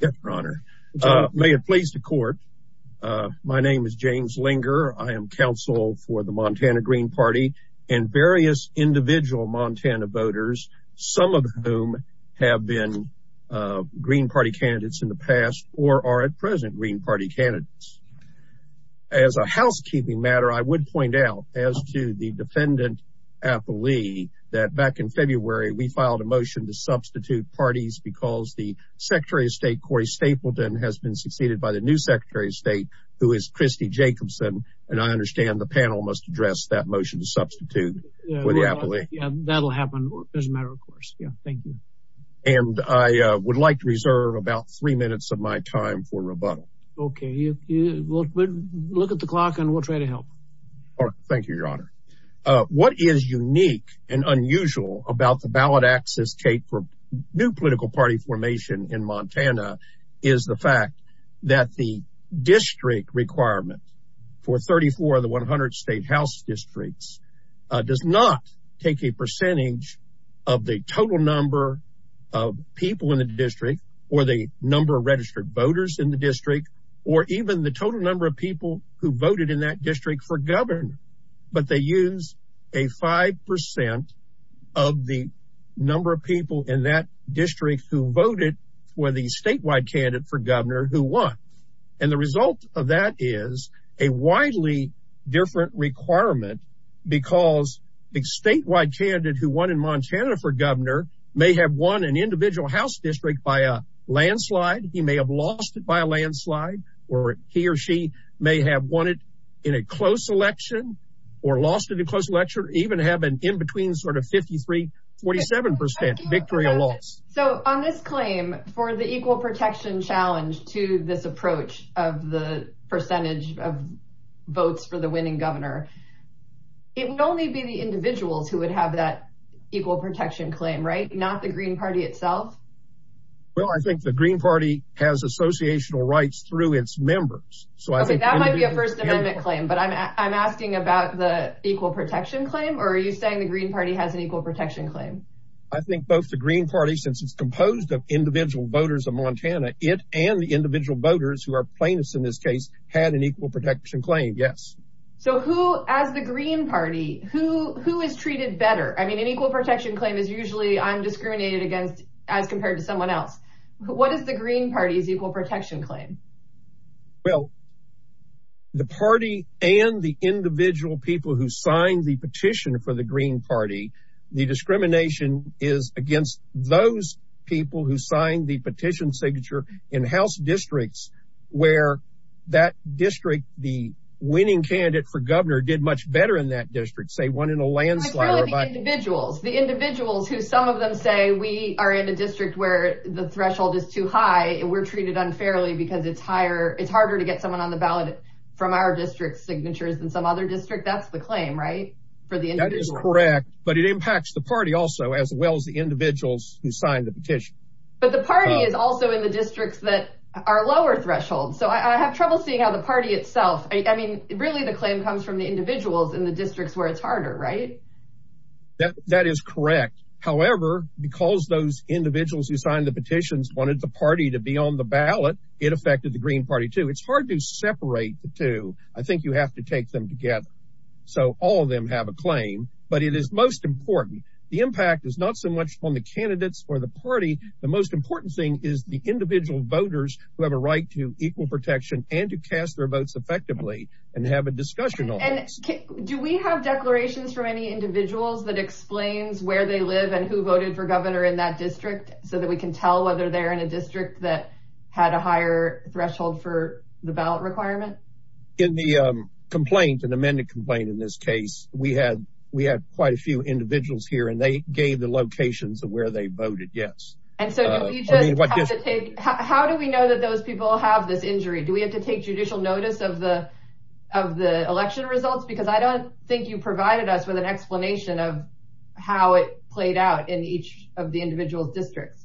Yes, Your Honor. May it please the court. My name is James Linger. I am counsel for the Montana Green Party and various individual Montana voters, some of whom have been Green Party candidates in the past or are at present Green Party candidates. As a housekeeping matter, I would point out as to the defendant, Apolli, that back in February, we filed a motion to Corey Stapleton has been succeeded by the new Secretary of State, who is Christy Jacobson. And I understand the panel must address that motion to substitute for the Apolli. Yeah, that'll happen. As a matter of course. Yeah, thank you. And I would like to reserve about three minutes of my time for rebuttal. Okay, you look at the clock and we'll try to help. All right. Thank you, Your Honor. What is unique and unusual about the ballot access tape for new political party formation in Montana is the fact that the district requirement for 34 of the 100 state house districts does not take a percentage of the total number of people in the district or the number of registered voters in the district, or even the total number of people who voted in that district for governor. But they use a 5% of the number of people in that district who voted for the statewide candidate for governor who won. And the result of that is a widely different requirement. Because the statewide candidate who won in Montana for governor may have won an individual house district by a landslide, he may have lost it by a landslide, or he or she may have won it in a close election, or lost it in close election even have an in between sort of 53, 47% victory or loss. So on this claim for the equal protection challenge to this approach of the percentage of votes for the winning governor, it would only be the individuals who would have that equal protection claim, right? Not the Green Party itself? Well, I think the Green Party has associational rights through its members. So that might be a First Amendment claim. But I'm asking about the equal protection claim. Or are you saying the Green Party has an equal protection claim? I think both the Green Party, since it's composed of individual voters of Montana, it and the individual voters who are plaintiffs, in this case, had an equal protection claim. Yes. So who as the Green Party, who is treated better? I mean, an equal protection claim is usually I'm discriminated against, as compared to someone else. What is the Green Party's equal protection claim? Well, the party and the individual people who signed the petition is against those people who signed the petition signature in house districts, where that district, the winning candidate for governor did much better in that district, say one in a landslide. Like really the individuals, the individuals who some of them say we are in a district where the threshold is too high, and we're treated unfairly because it's higher, it's harder to get someone on the ballot from our district signatures than some other district. That's the claim, right? That is correct. But it impacts the party also, as well as the individuals who signed the petition. But the party is also in the districts that are lower thresholds. So I have trouble seeing how the party itself, I mean, really, the claim comes from the individuals in the districts where it's harder, right? That is correct. However, because those individuals who signed the petitions wanted the party to be on the ballot, it affected the Green Party too. It's hard to separate the two. I them have a claim, but it is most important. The impact is not so much on the candidates or the party. The most important thing is the individual voters who have a right to equal protection and to cast their votes effectively and have a discussion on it. Do we have declarations from any individuals that explains where they live and who voted for governor in that district so that we can tell whether they're in a district that had a higher threshold for the ballot requirement? In the complaint, an amended complaint in this case, we had quite a few individuals here and they gave the locations of where they voted, yes. And so how do we know that those people have this injury? Do we have to take judicial notice of the election results? Because I don't think you provided us with an explanation of how it played out in each of the individual districts.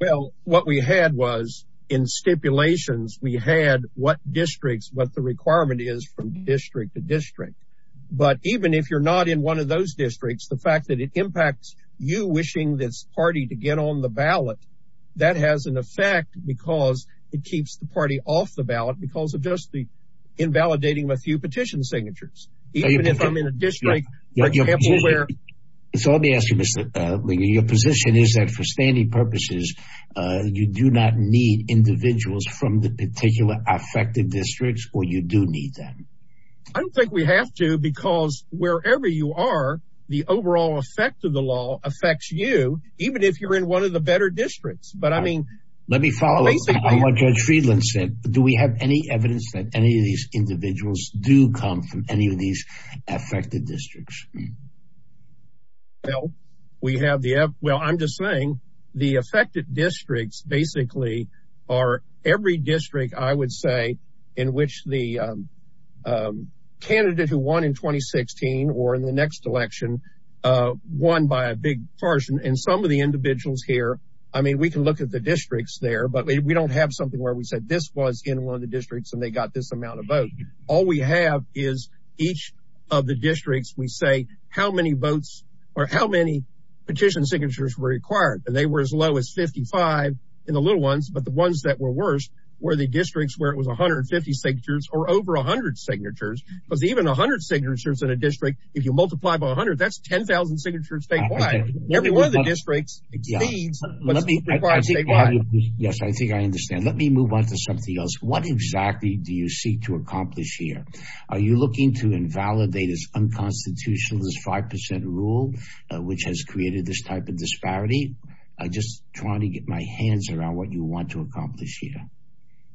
Well, what we had was in stipulations, we had what districts, what the requirement is from district to district. But even if you're not in one of those districts, the fact that it impacts you wishing this party to get on the ballot, that has an effect because it keeps the party off the ballot because of just the invalidating a few petition signatures. Even if I'm in a district, so let me ask you, Mr. Liggett, your position is that for standing purposes, you do not need individuals from the particular affected districts or you do need them? I don't think we have to because wherever you are, the overall effect of the law affects you, even if you're in one of the better districts. But I mean, let me follow up on what Judge Friedland said. Do we have any evidence that any of these individuals do come from any of these affected districts? Well, we have the, well, I'm just saying the affected districts basically are every district I would say in which the candidate who won in 2016 or in the next election won by a big portion. And some of the individuals here, I mean, we can look at the districts there, but we don't have something where we said this was in one of the districts and they got this amount of signatures. What we do is each of the districts, we say how many votes or how many petition signatures were required and they were as low as 55 in the little ones. But the ones that were worse were the districts where it was 150 signatures or over 100 signatures, because even 100 signatures in a district, if you multiply by 100, that's 10,000 signatures statewide. Every one of the districts exceeds what's required statewide. Yes, I think I understand. Let me move on to something else. What exactly do you seek to accomplish here? Are you looking to invalidate as unconstitutional as 5% rule, which has created this type of disparity? I'm just trying to get my hands around what you want to accomplish here.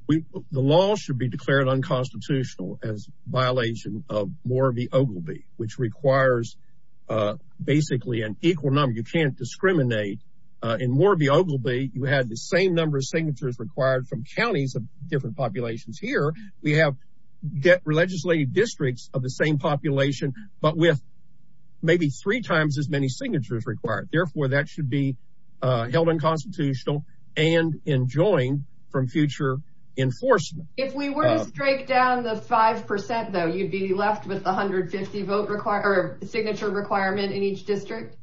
The law should be declared unconstitutional as violation of Mooraby-Oglebay, which requires basically an equal number. You can't discriminate. In Mooraby-Oglebay, you had the same number of signatures required from counties of different populations. Here, we have legislated districts of the same population, but with maybe three times as many signatures required. Therefore, that should be held unconstitutional and enjoined from future enforcement. If we were to break down the 5%, though, you'd be left with 150 signature requirement in each district?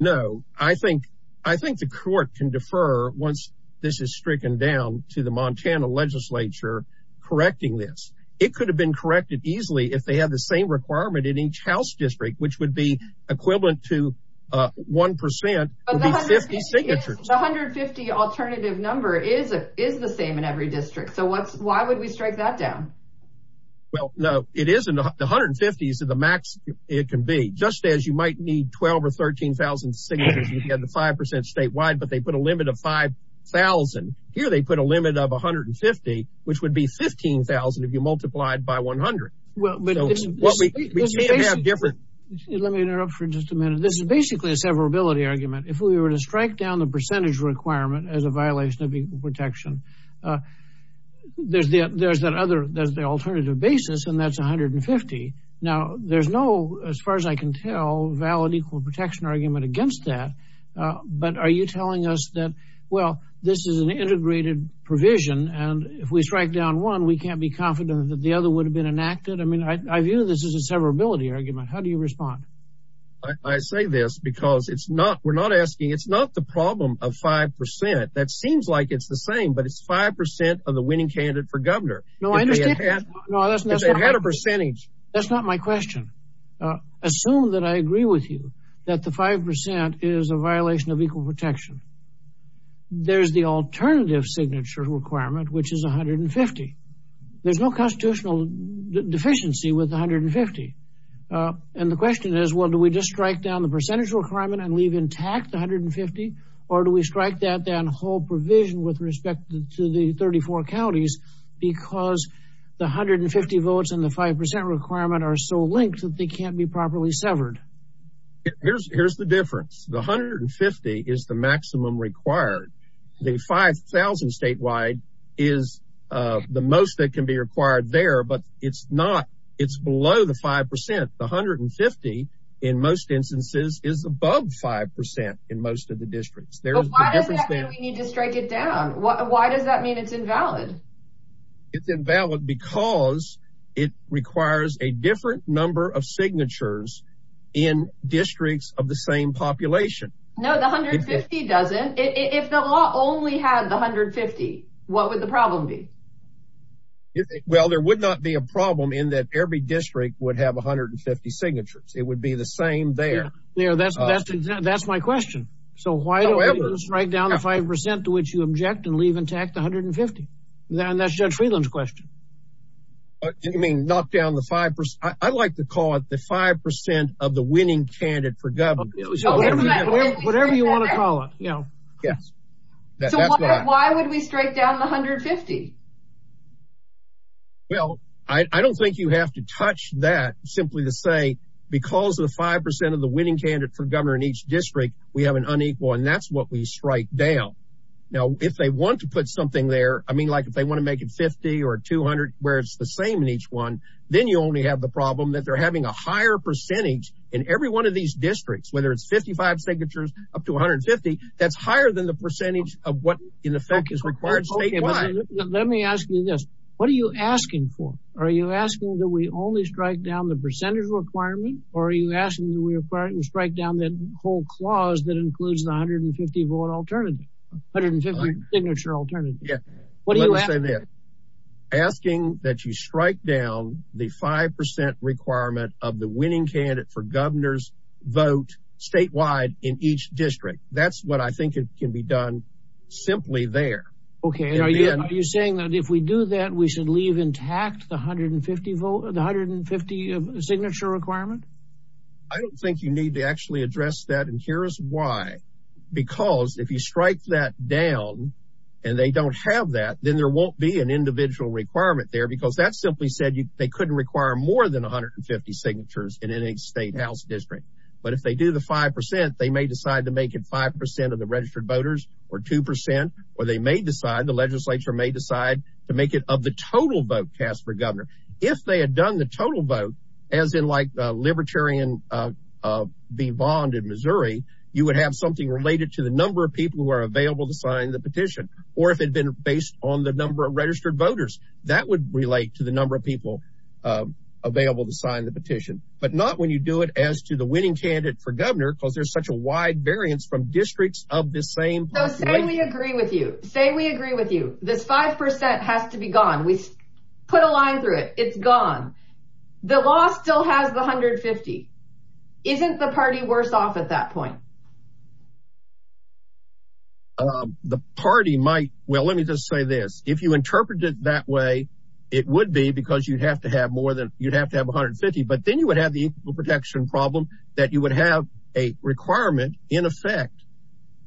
No, I think the court can defer once this is stricken down to the Montana legislature correcting this. It could have been corrected easily if they have the same requirement in each house district, which would be equivalent to 1% would be 50 signatures. The 150 alternative number is the same in every district. So why would we strike that down? Well, no, it isn't. The 150 is the max it can be. Just as you might need 12,000 or 13,000 signatures, you have the 5% statewide, but they put a limit of 5,000. Here, they put a limit of 150, which would be 15,000 if you multiplied by 100. Let me interrupt for just a minute. This is basically a severability argument. If we were to strike down the percentage requirement as a violation of equal protection, there's the alternative basis, and that's 150. Now, as far as I can tell, valid equal protection argument against that, but are you telling us that, well, this is an integrated provision, and if we strike down one, we can't be confident that the other would have been enacted? I mean, I view this as a severability argument. How do you respond? I say this because it's not, we're not asking, it's not the problem of 5%. That seems like it's the same, but it's 5% of the winning candidate for governor. No, I understand. No, that's not. If they had a percentage. That's not my question. Assume that I agree with you that the 5% is a violation of equal protection. There's the alternative signature requirement, which is 150. There's no constitutional deficiency with 150. And the question is, well, do we just strike down the percentage requirement and leave intact the 150, or do we strike that and hold provision with respect to the 34 counties, because the 150 votes and the 5% requirement are so linked that they can't be properly severed. Here's the difference. The 150 is the maximum required. The 5,000 statewide is the most that can be required there, but it's not, it's below the 5%. The 150 in most instances is above 5% in most of the districts. Why does that mean we need to strike it down? Why does that mean it's invalid? It's invalid because it requires a different number of signatures in districts of the same population. No, the 150 doesn't. If the law only had the 150, what would the problem be? Well, there would not be a problem in that every district would have 150 signatures. It would be the same there. Yeah, that's my question. So why don't we just strike down the 5% to which you object and leave intact the 150? And that's Judge Friedland's question. You mean knock down the 5%? I like to call it the 5% of the winning candidate for governor, whatever you want to call it. Yes. Why would we strike down the 150? Well, I don't think you have to touch that simply to say, because of the 5% of the winning candidate for governor in each district, we have an unequal, and that's what we strike down. Now, if they want to put something there, I mean, like if they want to make it 50 or 200, where it's the same in each one, then you only have the problem that they're having a higher percentage in every one of these districts, whether it's 55 signatures up to 150, that's higher than the percentage of what, in effect, is required statewide. Let me ask you this. What are you asking for? Are you asking that we only strike down the percentage requirement or are you asking that we strike down the whole 150 signature alternative? Yes. Let me say this. Asking that you strike down the 5% requirement of the winning candidate for governor's vote statewide in each district. That's what I think can be done simply there. Okay. Are you saying that if we do that, we should leave intact the 150 signature requirement? I don't think you need to actually address that, and because if you strike that down and they don't have that, then there won't be an individual requirement there because that simply said they couldn't require more than 150 signatures in any state house district. But if they do the 5%, they may decide to make it 5% of the registered voters or 2%, or they may decide, the legislature may decide to make it of the total vote cast for governor. If they had done the total vote, as in like Libertarian V. Bond in Missouri, you would have something related to the number of people who are available to sign the petition, or if it had been based on the number of registered voters, that would relate to the number of people available to sign the petition, but not when you do it as to the winning candidate for governor, because there's such a wide variance from districts of the same. So say we agree with you. Say we agree with you. This 5% has to be gone. We put a line through it. It's gone. The law still has the 150. Isn't the party worse off at that point? The party might. Well, let me just say this. If you interpret it that way, it would be because you'd have to have more than you'd have to have 150. But then you would have the equal protection problem that you would have a requirement in effect,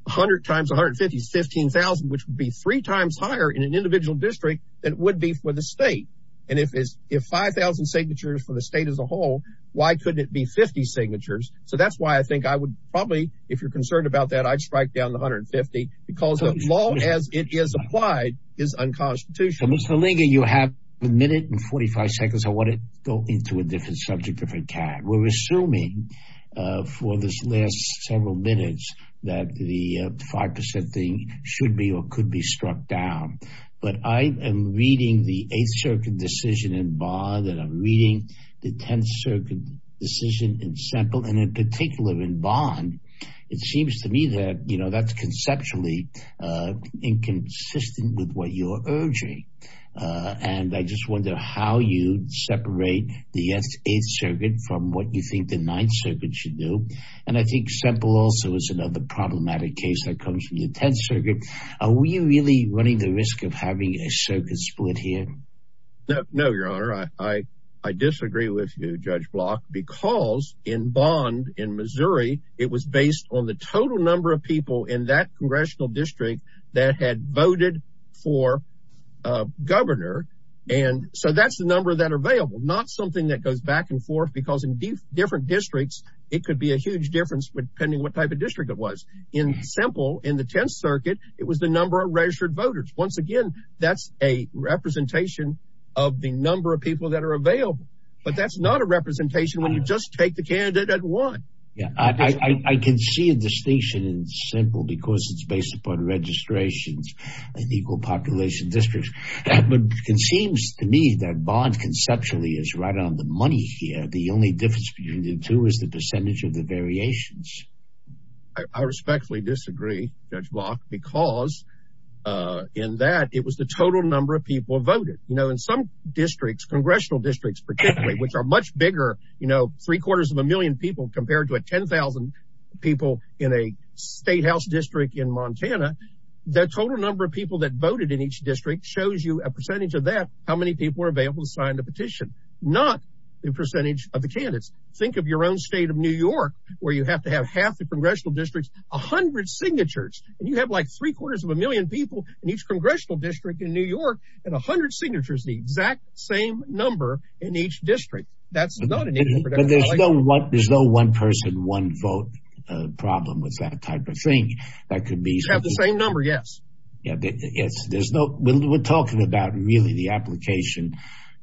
100 times 150 is 15,000, which would be three times higher in an individual district than it would be for the state. And if it's if 5,000 signatures for the state as a whole, why couldn't it be 50 signatures? So that's why I think I would probably, if you're concerned about that, I'd strike down the 150 because the law, as it is applied, is unconstitutional. Mr. Langer, you have a minute and 45 seconds. I want to go into a different subject, different time. We're assuming for this last several minutes that the 5% thing should be or could be struck down. But I am reading the 8th Circuit decision in Bond and I'm reading the 10th Circuit decision in Semple and in particular in Bond, it seems to me that, you know, that's conceptually inconsistent with what you're urging. And I just wonder how you separate the 8th Circuit from what you think the 9th Circuit should do. And I think Semple also is another problematic case that comes from the 10th Circuit. Are we really running the risk of having a circus split here? No, Your Honor, I disagree with you, Judge Block, because in Bond in Missouri, it was based on the total number of people in that congressional district that had voted for a governor. And so that's the number that are available, not something that goes back and forth because in different districts, it could be a huge difference depending what type of district it was. In Semple, in the 10th Circuit, it was the number of registered voters. Once again, that's a representation of the number of people that are available, but that's not a representation when you just take the candidate at one. Yeah, I can see a distinction in Semple because it's based upon registrations and equal population districts. That seems to me that Bond conceptually is right on the money here. The only difference between the two is the percentage of the variations. I respectfully disagree, Judge Block, because in that it was the total number of people voted. You know, in some districts, congressional districts, particularly, which are much bigger, you know, three quarters of a million people compared to a 10,000 people in a state House district in Montana, the total number of people that voted in each district shows you a percentage of that, how many people are available to sign the petition, not the percentage of the candidates. Think of your own state of New York where you have to have half the congressional districts, 100 signatures, and you have like three quarters of a million people in each congressional district in New York and 100 signatures, the exact same number in each district. That's not an issue. But there's no one person, one vote problem with that type of thing. That could be. You have the same number. Yes. Yeah. We're talking about really the application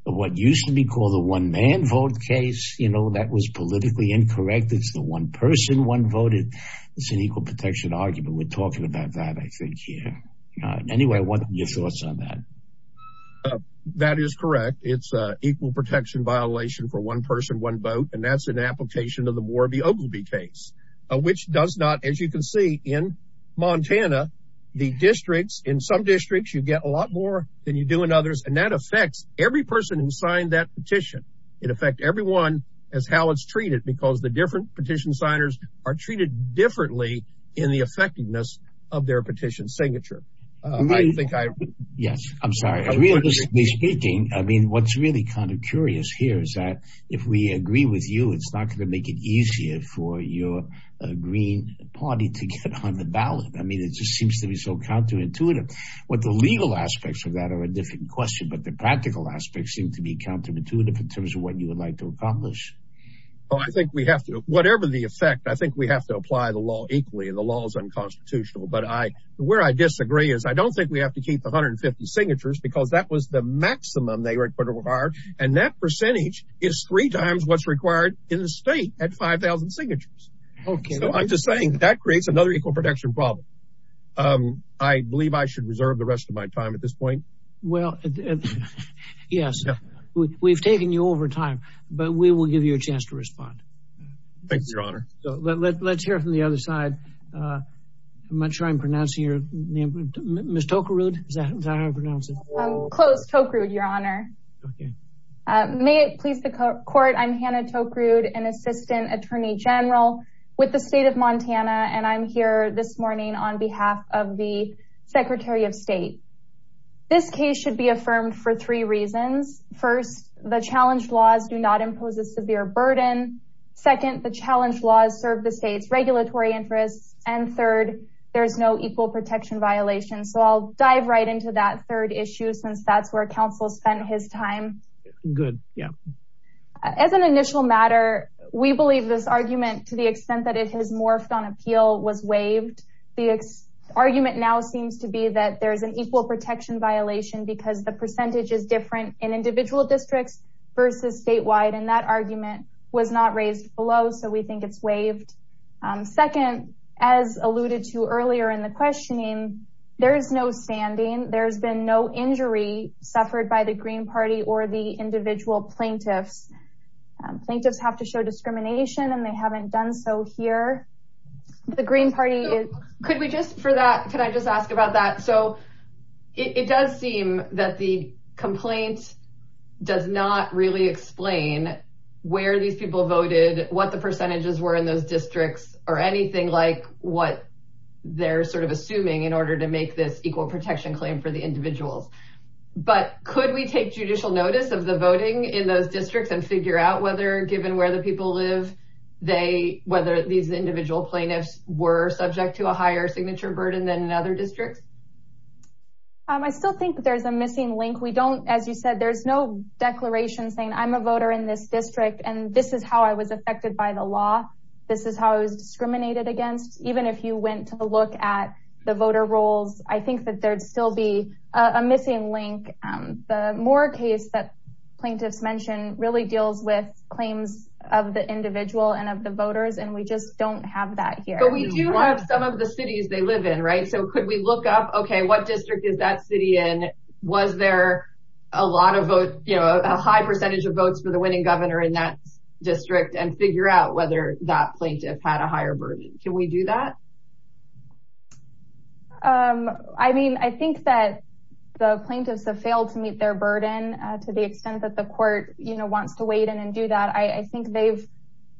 of what used to be called the one man vote case. You know, that was politically incorrect. It's the one person, one voted. It's an equal protection argument. We're talking about that, I think. Yeah. Anyway, I want your thoughts on that. That is correct. It's equal protection violation for one person, one vote. And that's an application of the Morabi-Oglebay case, which does not, as you can see in Montana, the districts in some districts, you get a lot more than you do in others. And that affects every person who signed that petition. It affects everyone as how it's treated, because the different petition signers are treated differently in the effectiveness of their petition signature. Yes. I'm sorry. Realistically speaking, I mean, what's really kind of curious here is that if we agree with you, it's not going to make it easier for your Green Party to get on the ballot. I mean, it just seems to be so counterintuitive. What the legal aspects of that are a different question, but the practical aspects seem to be counterintuitive, in terms of what you would like to accomplish. Well, I think we have to, whatever the effect, I think we have to apply the law equally. The law is unconstitutional. But where I disagree is I don't think we have to keep 150 signatures because that was the maximum they required. And that percentage is three times what's required in the state at 5,000 signatures. Okay. So I'm just saying that creates another equal protection problem. I believe I should reserve the rest of my time at this point. Well, yes, we've taken you over time, but we will give you a chance to respond. Thank you, Your Honor. Let's hear from the other side. I'm not sure I'm pronouncing your name. Ms. Tokarud, is that how you pronounce it? Close, Tokarud, Your Honor. May it please the court, I'm Hannah Tokarud, an assistant attorney general with the state of Montana. And I'm here this morning on behalf of the Secretary of State. This case should be affirmed for three reasons. First, the challenge laws do not impose a severe burden. Second, the challenge laws serve the state's regulatory interests. And third, there's no equal protection violation. So I'll dive right into that third issue since that's where counsel spent his time. Good. Yeah. As an initial matter, we believe this argument, to the extent that it has morphed on appeal, was waived. The argument now seems to be that there is an equal protection violation because the percentage is different in individual districts versus statewide. And that argument was not raised below. So we think it's waived. Second, as alluded to earlier in the questioning, there is no standing. There's been no injury suffered by the Green Party or the individual plaintiffs. Plaintiffs have to show discrimination and they haven't done so here. The Green Party is- Could we just, for that, could I just ask about that? So it does seem that the complaint does not really explain where these people voted, what the percentages were in those districts, or anything like what they're sort of assuming in order to make this equal protection claim for the individuals. But could we take judicial notice of the voting in those districts and figure out whether, given where the individual plaintiffs were, subject to a higher signature burden than in other districts? I still think there's a missing link. We don't, as you said, there's no declaration saying, I'm a voter in this district and this is how I was affected by the law. This is how I was discriminated against. Even if you went to look at the voter rolls, I think that there'd still be a missing link. The Moore case that plaintiffs mentioned really deals with claims of the individual and of the voters. And we just don't have that here. But we do have some of the cities they live in, right? So could we look up, okay, what district is that city in? Was there a lot of votes, you know, a high percentage of votes for the winning governor in that district and figure out whether that plaintiff had a higher burden? Can we do that? I mean, I think that the plaintiffs have failed to meet their burden to the extent that the court, you know, wants to weigh in and do that. I think they've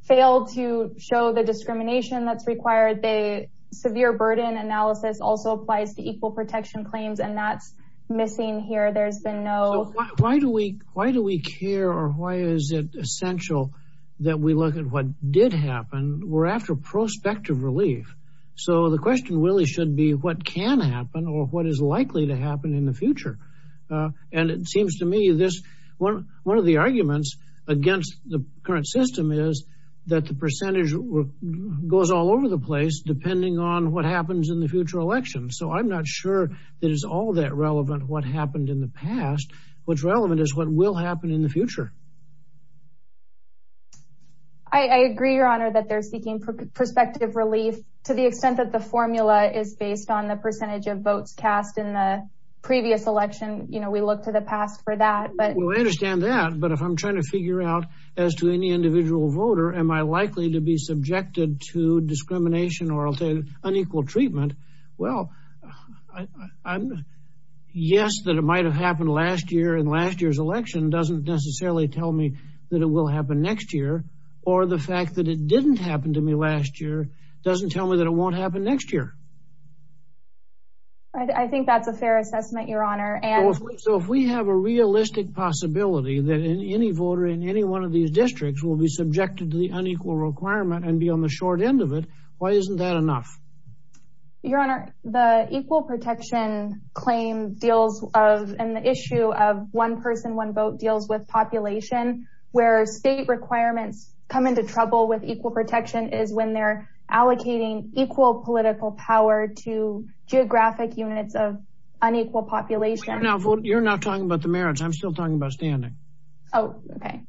failed to show the discrimination that's required. The severe burden analysis also applies to equal protection claims and that's missing here. There's been no- So why do we care or why is it essential that we look at what did happen? We're after prospective relief. So the question really should be what can happen or what is likely to happen in the future. And it seems to me this, one of the arguments against the current system is that the percentage goes all over the place depending on what happens in the future election. So I'm not sure that is all that relevant what happened in the past. What's relevant is what will happen in the future. I agree, Your Honor, that they're seeking prospective relief to the extent that the formula is based on the percentage of votes cast in the previous election. You know, we look to the past for that, but- As to any individual voter, am I likely to be subjected to discrimination or unequal treatment? Well, yes, that it might have happened last year and last year's election doesn't necessarily tell me that it will happen next year. Or the fact that it didn't happen to me last year doesn't tell me that it won't happen next year. I think that's a fair assessment, Your Honor. And- So if we have a realistic possibility that any voter in any one of these districts will be subjected to the unequal requirement and be on the short end of it, why isn't that enough? Your Honor, the equal protection claim deals of- and the issue of one person, one vote deals with population where state requirements come into trouble with equal protection is when they're allocating equal political power to geographic units of unequal population. Now, you're not talking about the merits. I'm still talking about standing. Oh, OK.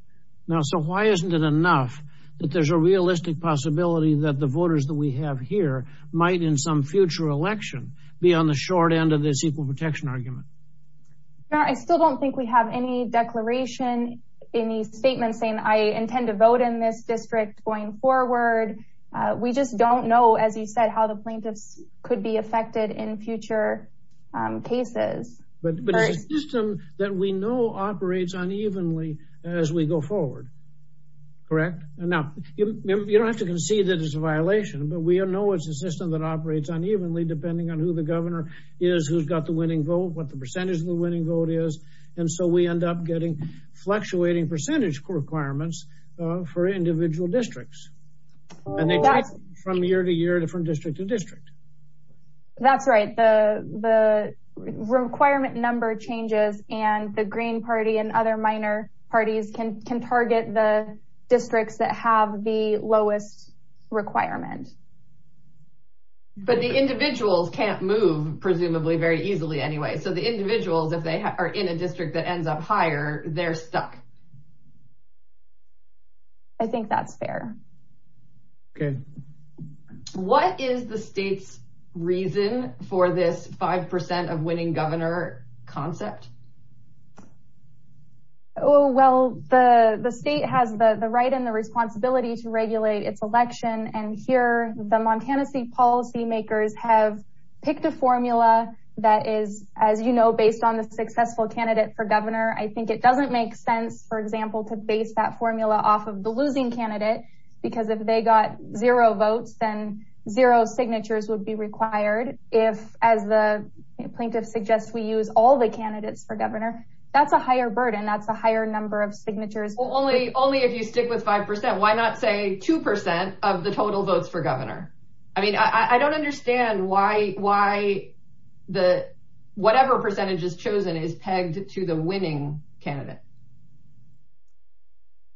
Now, so why isn't it enough that there's a realistic possibility that the voters that we have here might in some future election be on the short end of this equal protection argument? Your Honor, I still don't think we have any declaration, any statement saying I intend to vote in this district going forward. We just don't know, as you said, how the plaintiffs could be affected in future cases. But it's a system that we know operates unevenly as we go forward, correct? Now, you don't have to concede that it's a violation, but we know it's a system that operates unevenly depending on who the governor is, who's got the winning vote, what the percentage of the winning vote is. And so we end up getting fluctuating percentage requirements for individual districts. And they change from year to year, from district to district. That's right. The requirement number changes, and the Green Party and other minor parties can target the districts that have the lowest requirement. But the individuals can't move, presumably, very easily anyway. So the individuals, if they are in a district that ends up higher, they're stuck. I think that's fair. OK. What is the state's reason for this 5% of winning governor concept? Well, the state has the right and the responsibility to regulate its election. And here, the Montana State policymakers have picked a formula that is, as you know, based on the successful candidate for governor. I think it doesn't make sense, for example, to base that formula off of the losing candidate. Because if they got zero votes, then zero signatures would be required. If, as the plaintiff suggests, we use all the candidates for governor, that's a higher burden. That's a higher number of signatures. Well, only if you stick with 5%. Why not say 2% of the total votes for governor? I mean, I don't understand why whatever percentage is chosen is pegged to the winning candidate.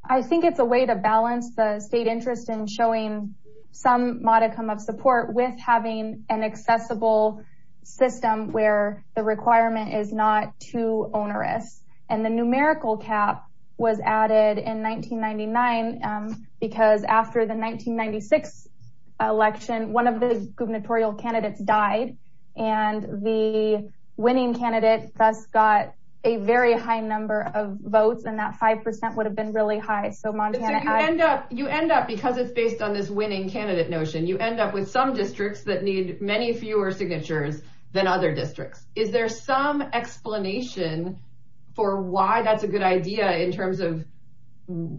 I think it's a way to balance the state interest in showing some modicum of support with having an accessible system where the requirement is not too onerous. And the numerical cap was added in 1999 because after the 1996 election, one of the gubernatorial candidates died. And the winning candidate thus got a very high number of votes, and that 5% would have been really high. So Montana added- You end up, because it's based on this winning candidate notion, you end up with some districts that need many fewer signatures than other districts. Is there some explanation for why that's a good idea in terms of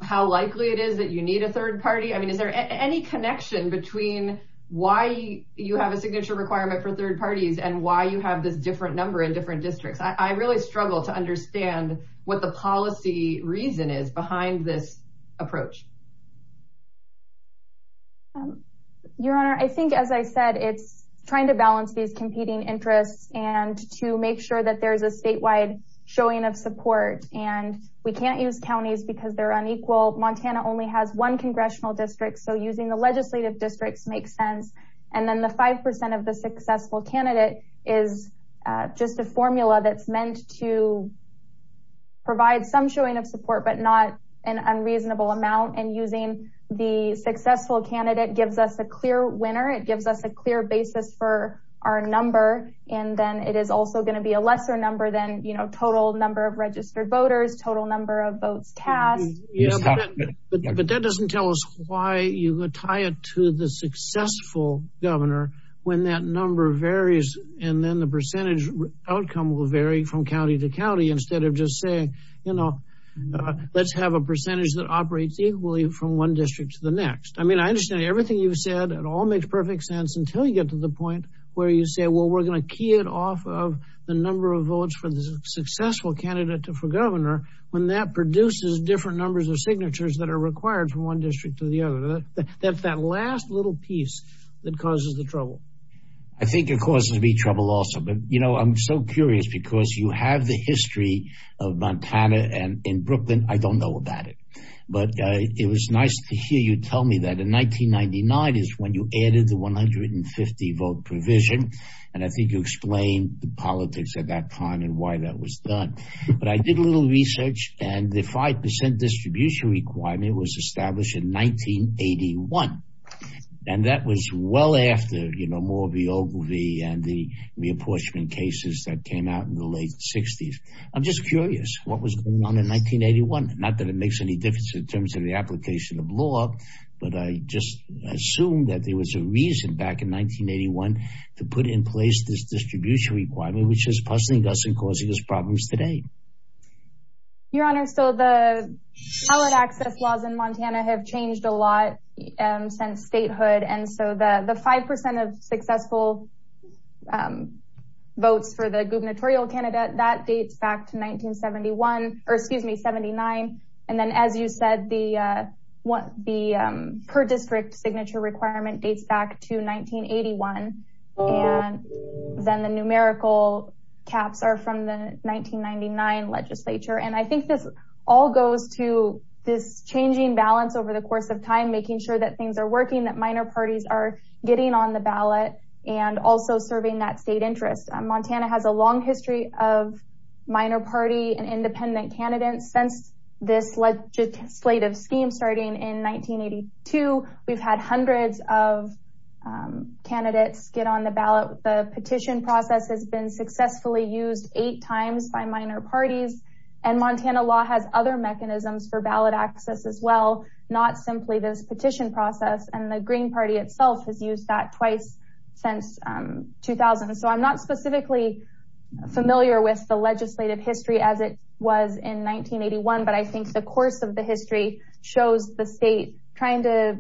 how likely it is that you need a third party? I mean, is there any connection between why you have a signature requirement for third parties and why you have this different number in different districts? I really struggle to understand what the policy reason is behind this approach. Your Honor, I think, as I said, it's trying to balance these competing interests and to make sure that there's a statewide showing of support. And we can't use counties because they're unequal. Montana only has one congressional district. So using the legislative districts makes sense. And then the 5% of the successful candidate is just a number that's meant to provide some showing of support, but not an unreasonable amount. And using the successful candidate gives us a clear winner. It gives us a clear basis for our number. And then it is also going to be a lesser number than total number of registered voters, total number of votes tasked. But that doesn't tell us why you would tie it to the successful governor when that number varies and then the percentage outcome will vary from county to county instead of just saying, you know, let's have a percentage that operates equally from one district to the next. I mean, I understand everything you've said. It all makes perfect sense until you get to the point where you say, well, we're going to key it off of the number of votes for the successful candidate for governor when that produces different numbers of signatures that are required from one district to the other. That's that last little piece that causes the trouble. I think it causes me trouble also, but, you know, I'm so curious because you have the history of Montana and in Brooklyn, I don't know about it, but it was nice to hear you tell me that in 1999 is when you added the 150 vote provision. And I think you explained the politics at that time and why that was done. But I did a little research and the 5 percent distribution requirement was established in 1981. And that was well after, you know, more of the Ogilvy and the reapportionment cases that came out in the late 60s. I'm just curious what was going on in 1981. Not that it makes any difference in terms of the application of law, but I just assume that there was a reason back in 1981 to put in place this distribution requirement, which is puzzling us and causing us problems today. Your Honor, so the access laws in Montana have changed a lot since statehood. And so the 5 percent of successful votes for the gubernatorial candidate, that dates back to 1971 or excuse me, 79. And then, as you said, the per district signature requirement dates back to 1981. And then the numerical caps are from the 1999 legislature. And I think this all goes to this changing balance over the years, making sure that things are working, that minor parties are getting on the ballot and also serving that state interest. Montana has a long history of minor party and independent candidates since this legislative scheme starting in 1982. We've had hundreds of candidates get on the ballot. The petition process has been successfully used eight times by minor parties. And Montana law has other mechanisms for ballot access as well, not simply this petition process. And the Green Party itself has used that twice since 2000. So I'm not specifically familiar with the legislative history as it was in 1981. But I think the course of the history shows the state trying to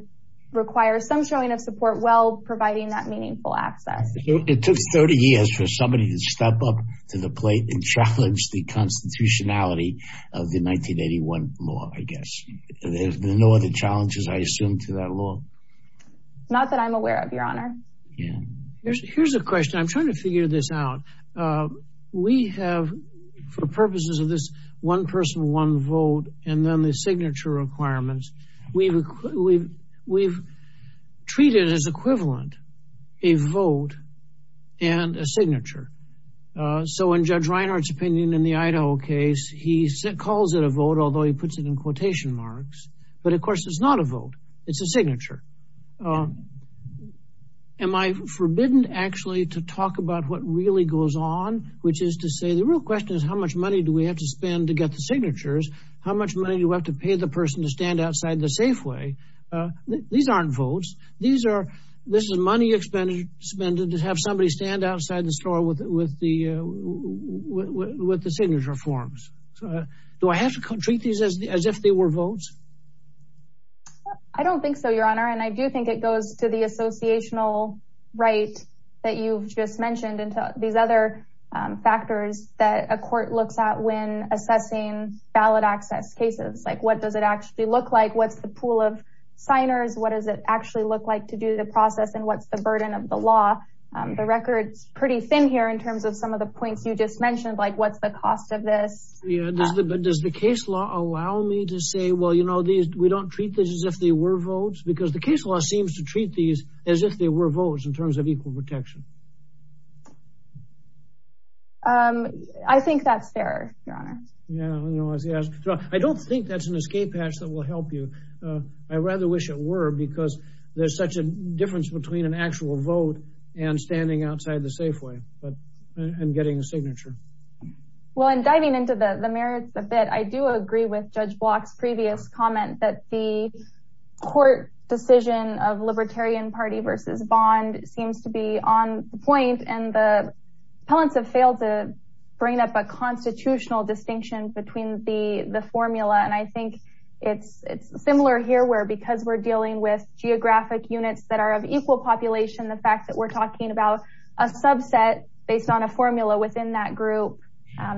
require some showing of support while providing that meaningful access. It took 30 years for somebody to step up to the plate and challenge the constitutionality of the 1981 law, I guess. There's no other challenges, I assume, to that law. Not that I'm aware of, Your Honor. Here's a question. I'm trying to figure this out. We have, for purposes of this one person, one vote, and then the signature requirements, we've treated as equivalent a vote and a signature. So in Judge Reinhart's opinion in the Idaho case, he calls it a vote, although he puts it in quotation marks. But of course, it's not a vote. It's a signature. Am I forbidden, actually, to talk about what really goes on? Which is to say, the real question is, how much money do we have to spend to get the signatures? How much money do we have to pay the person to stand outside the Safeway? These aren't votes. This is money expended to have somebody stand outside the store with the signature forms. Do I have to treat these as if they were votes? I don't think so, Your Honor. And I do think it goes to the associational right that you've just mentioned and to these other factors that a court looks at when assessing ballot access cases. Like, what does it actually look like? What's the pool of signers? What does it actually look like to do the process? And what's the burden of the law? The record's pretty thin here in terms of some of the points you just mentioned, like what's the cost of this? Does the case law allow me to say, well, you know, we don't treat this as if they were votes? Because the case law seems to treat these as if they were votes in terms of equal protection. I think that's fair, Your Honor. I don't think that's an escape hatch that will help you. I rather wish it were, because there's such a difference between an actual vote and standing outside the Safeway and getting a signature. Well, and diving into the merits a bit, I do agree with Judge Block's previous comment that the court decision of Libertarian Party versus Bond seems to be on point. And the appellants have failed to bring up a constitutional distinction between the formula. And I think it's similar here, where because we're dealing with geographic units that are of equal population, the fact that we're talking about a subset based on a formula within that group,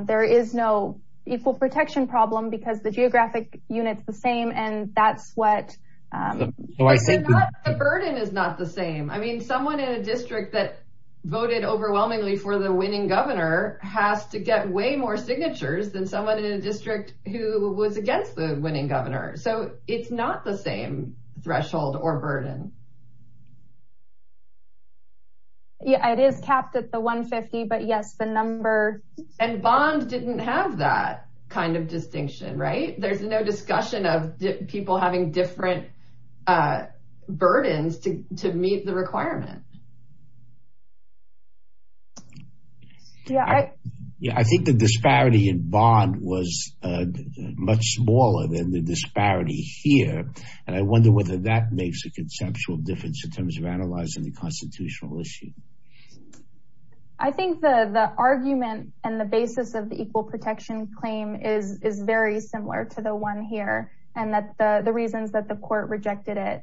there is no equal protection problem, because the geographic unit's the same. And that's what the burden is not the same. I mean, someone in a district that voted overwhelmingly for the winning governor has to get way more signatures than someone in a district who was against the winning governor. So it's not the same threshold or burden. Yeah, it is capped at the 150. But yes, the number. And Bond didn't have that kind of distinction, right? There's no discussion of people having different burdens to meet the requirement. I think the disparity in Bond was much smaller than the disparity here. And I wonder whether that makes a conceptual difference in terms of analyzing the constitutional issue. I think the argument and the basis of the equal protection claim is very similar to the one here, and that the reasons that the court rejected it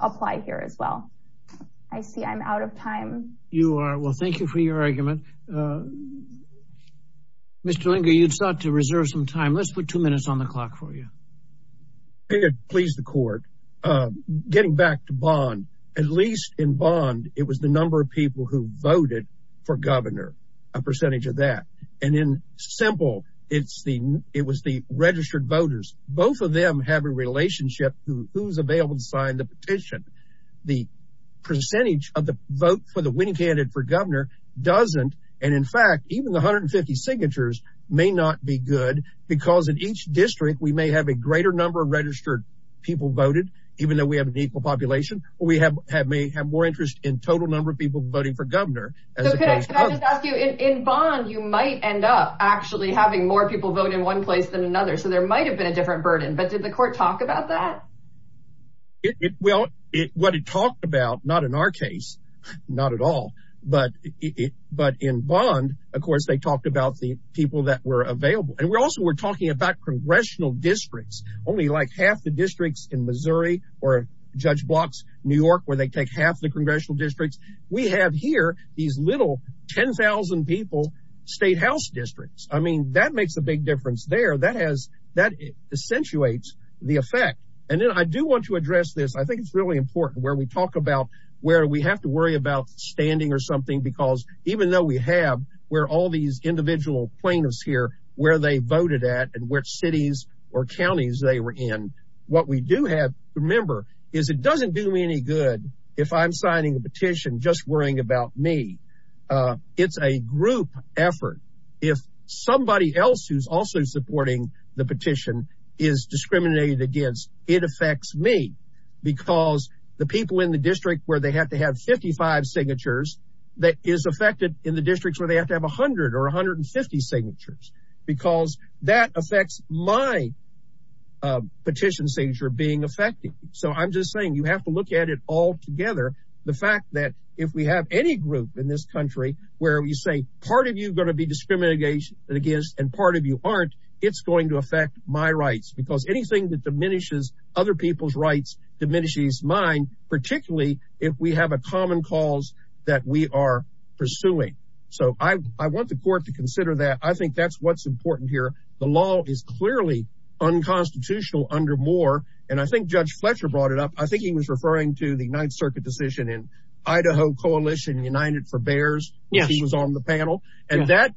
apply here as well. I see I'm out of time. You are. Well, thank you for your argument. Mr. Linger, you sought to reserve some time. Let's put two minutes on the clock for you. Please, the court. Getting back to Bond, at least in Bond, it was the number of people who voted for governor, a percentage of that. And in Simple, it was the registered voters. Both of them have a relationship to who's available to sign the petition. The percentage of the vote for the winning candidate for governor doesn't. And in fact, even the 150 signatures may not be good because in each district, we may have a greater number of registered people voted, even though we have an equal population, or we may have more interest in total number of people voting for governor. So can I just ask you, in Bond, you might end up actually having more people vote in one place than another. So there might have been a different burden. But did the court talk about that? Well, what it talked about, not in our case, not at all. But in Bond, of course, they talked about the people that were available. And we also were talking about congressional districts, only like half the districts in Missouri, or Judge Blocks, New York, where they take half the congressional districts. We have here these little 10,000 people state house districts. I mean, that makes a big difference there. That has, that accentuates the effect. And then I do want to address this. I think it's really important where we talk about where we have to worry about standing or something, because even though we have where all these individual plaintiffs here, where they voted at, and which cities or counties they were in, what we do have to remember is it doesn't do me any good if I'm signing a petition just worrying about me. It's a group effort. If somebody else who's also supporting the petition is discriminated against, it affects me. Because the people in the district where they have to have 55 signatures, that is affected in the districts where they have to have 100 or 150 signatures, because that affects my petition signature being affected. So I'm just saying, you have to look at it altogether. The fact that if we have any group in this country where you say part of you are going to be discriminated against and part of you aren't, it's going to affect my rights. Because anything that diminishes other people's rights diminishes mine, particularly if we have a common cause that we are pursuing. So I want the court to consider that. I think that's what's important here. The law is clearly unconstitutional under Moore. And I think Judge Fletcher brought it up. I think he was referring to the Ninth Circuit decision in Idaho Coalition United for Bears, which he was on the panel. And that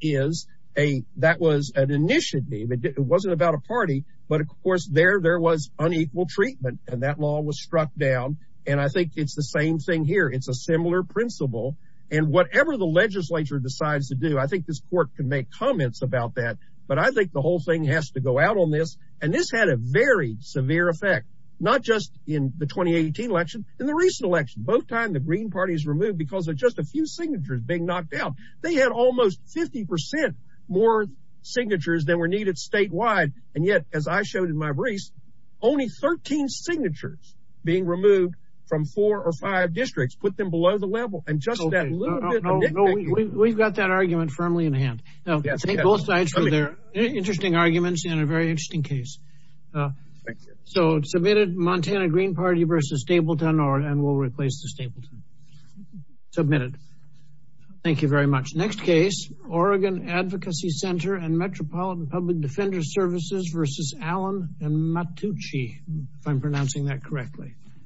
was an initiative. It wasn't about a party. But of course, there was unequal treatment, and that law was struck down. And I think it's the same thing here. It's a similar principle. And whatever the legislature decides to do, I think this court can make comments about that. But I think the whole thing has to go out on this. And this had a very severe effect, not just in the 2018 election, in the recent election. Both times, the Green Party is removed because of just a few signatures being knocked out. They had almost 50% more signatures than were needed statewide. And yet, as I showed in my briefs, only 13 signatures being removed from four or five districts put them below the level. And just that little bit of nitpicking. We've got that argument firmly in hand. Now, thank both sides for their interesting arguments and a very interesting case. So submitted, Montana Green Party versus Stapleton, and we'll replace the Stapleton. Submitted. Thank you very much. Next case, Oregon Advocacy Center and Metropolitan Public Defender Services versus Allen and Mattucci, if I'm pronouncing that correctly.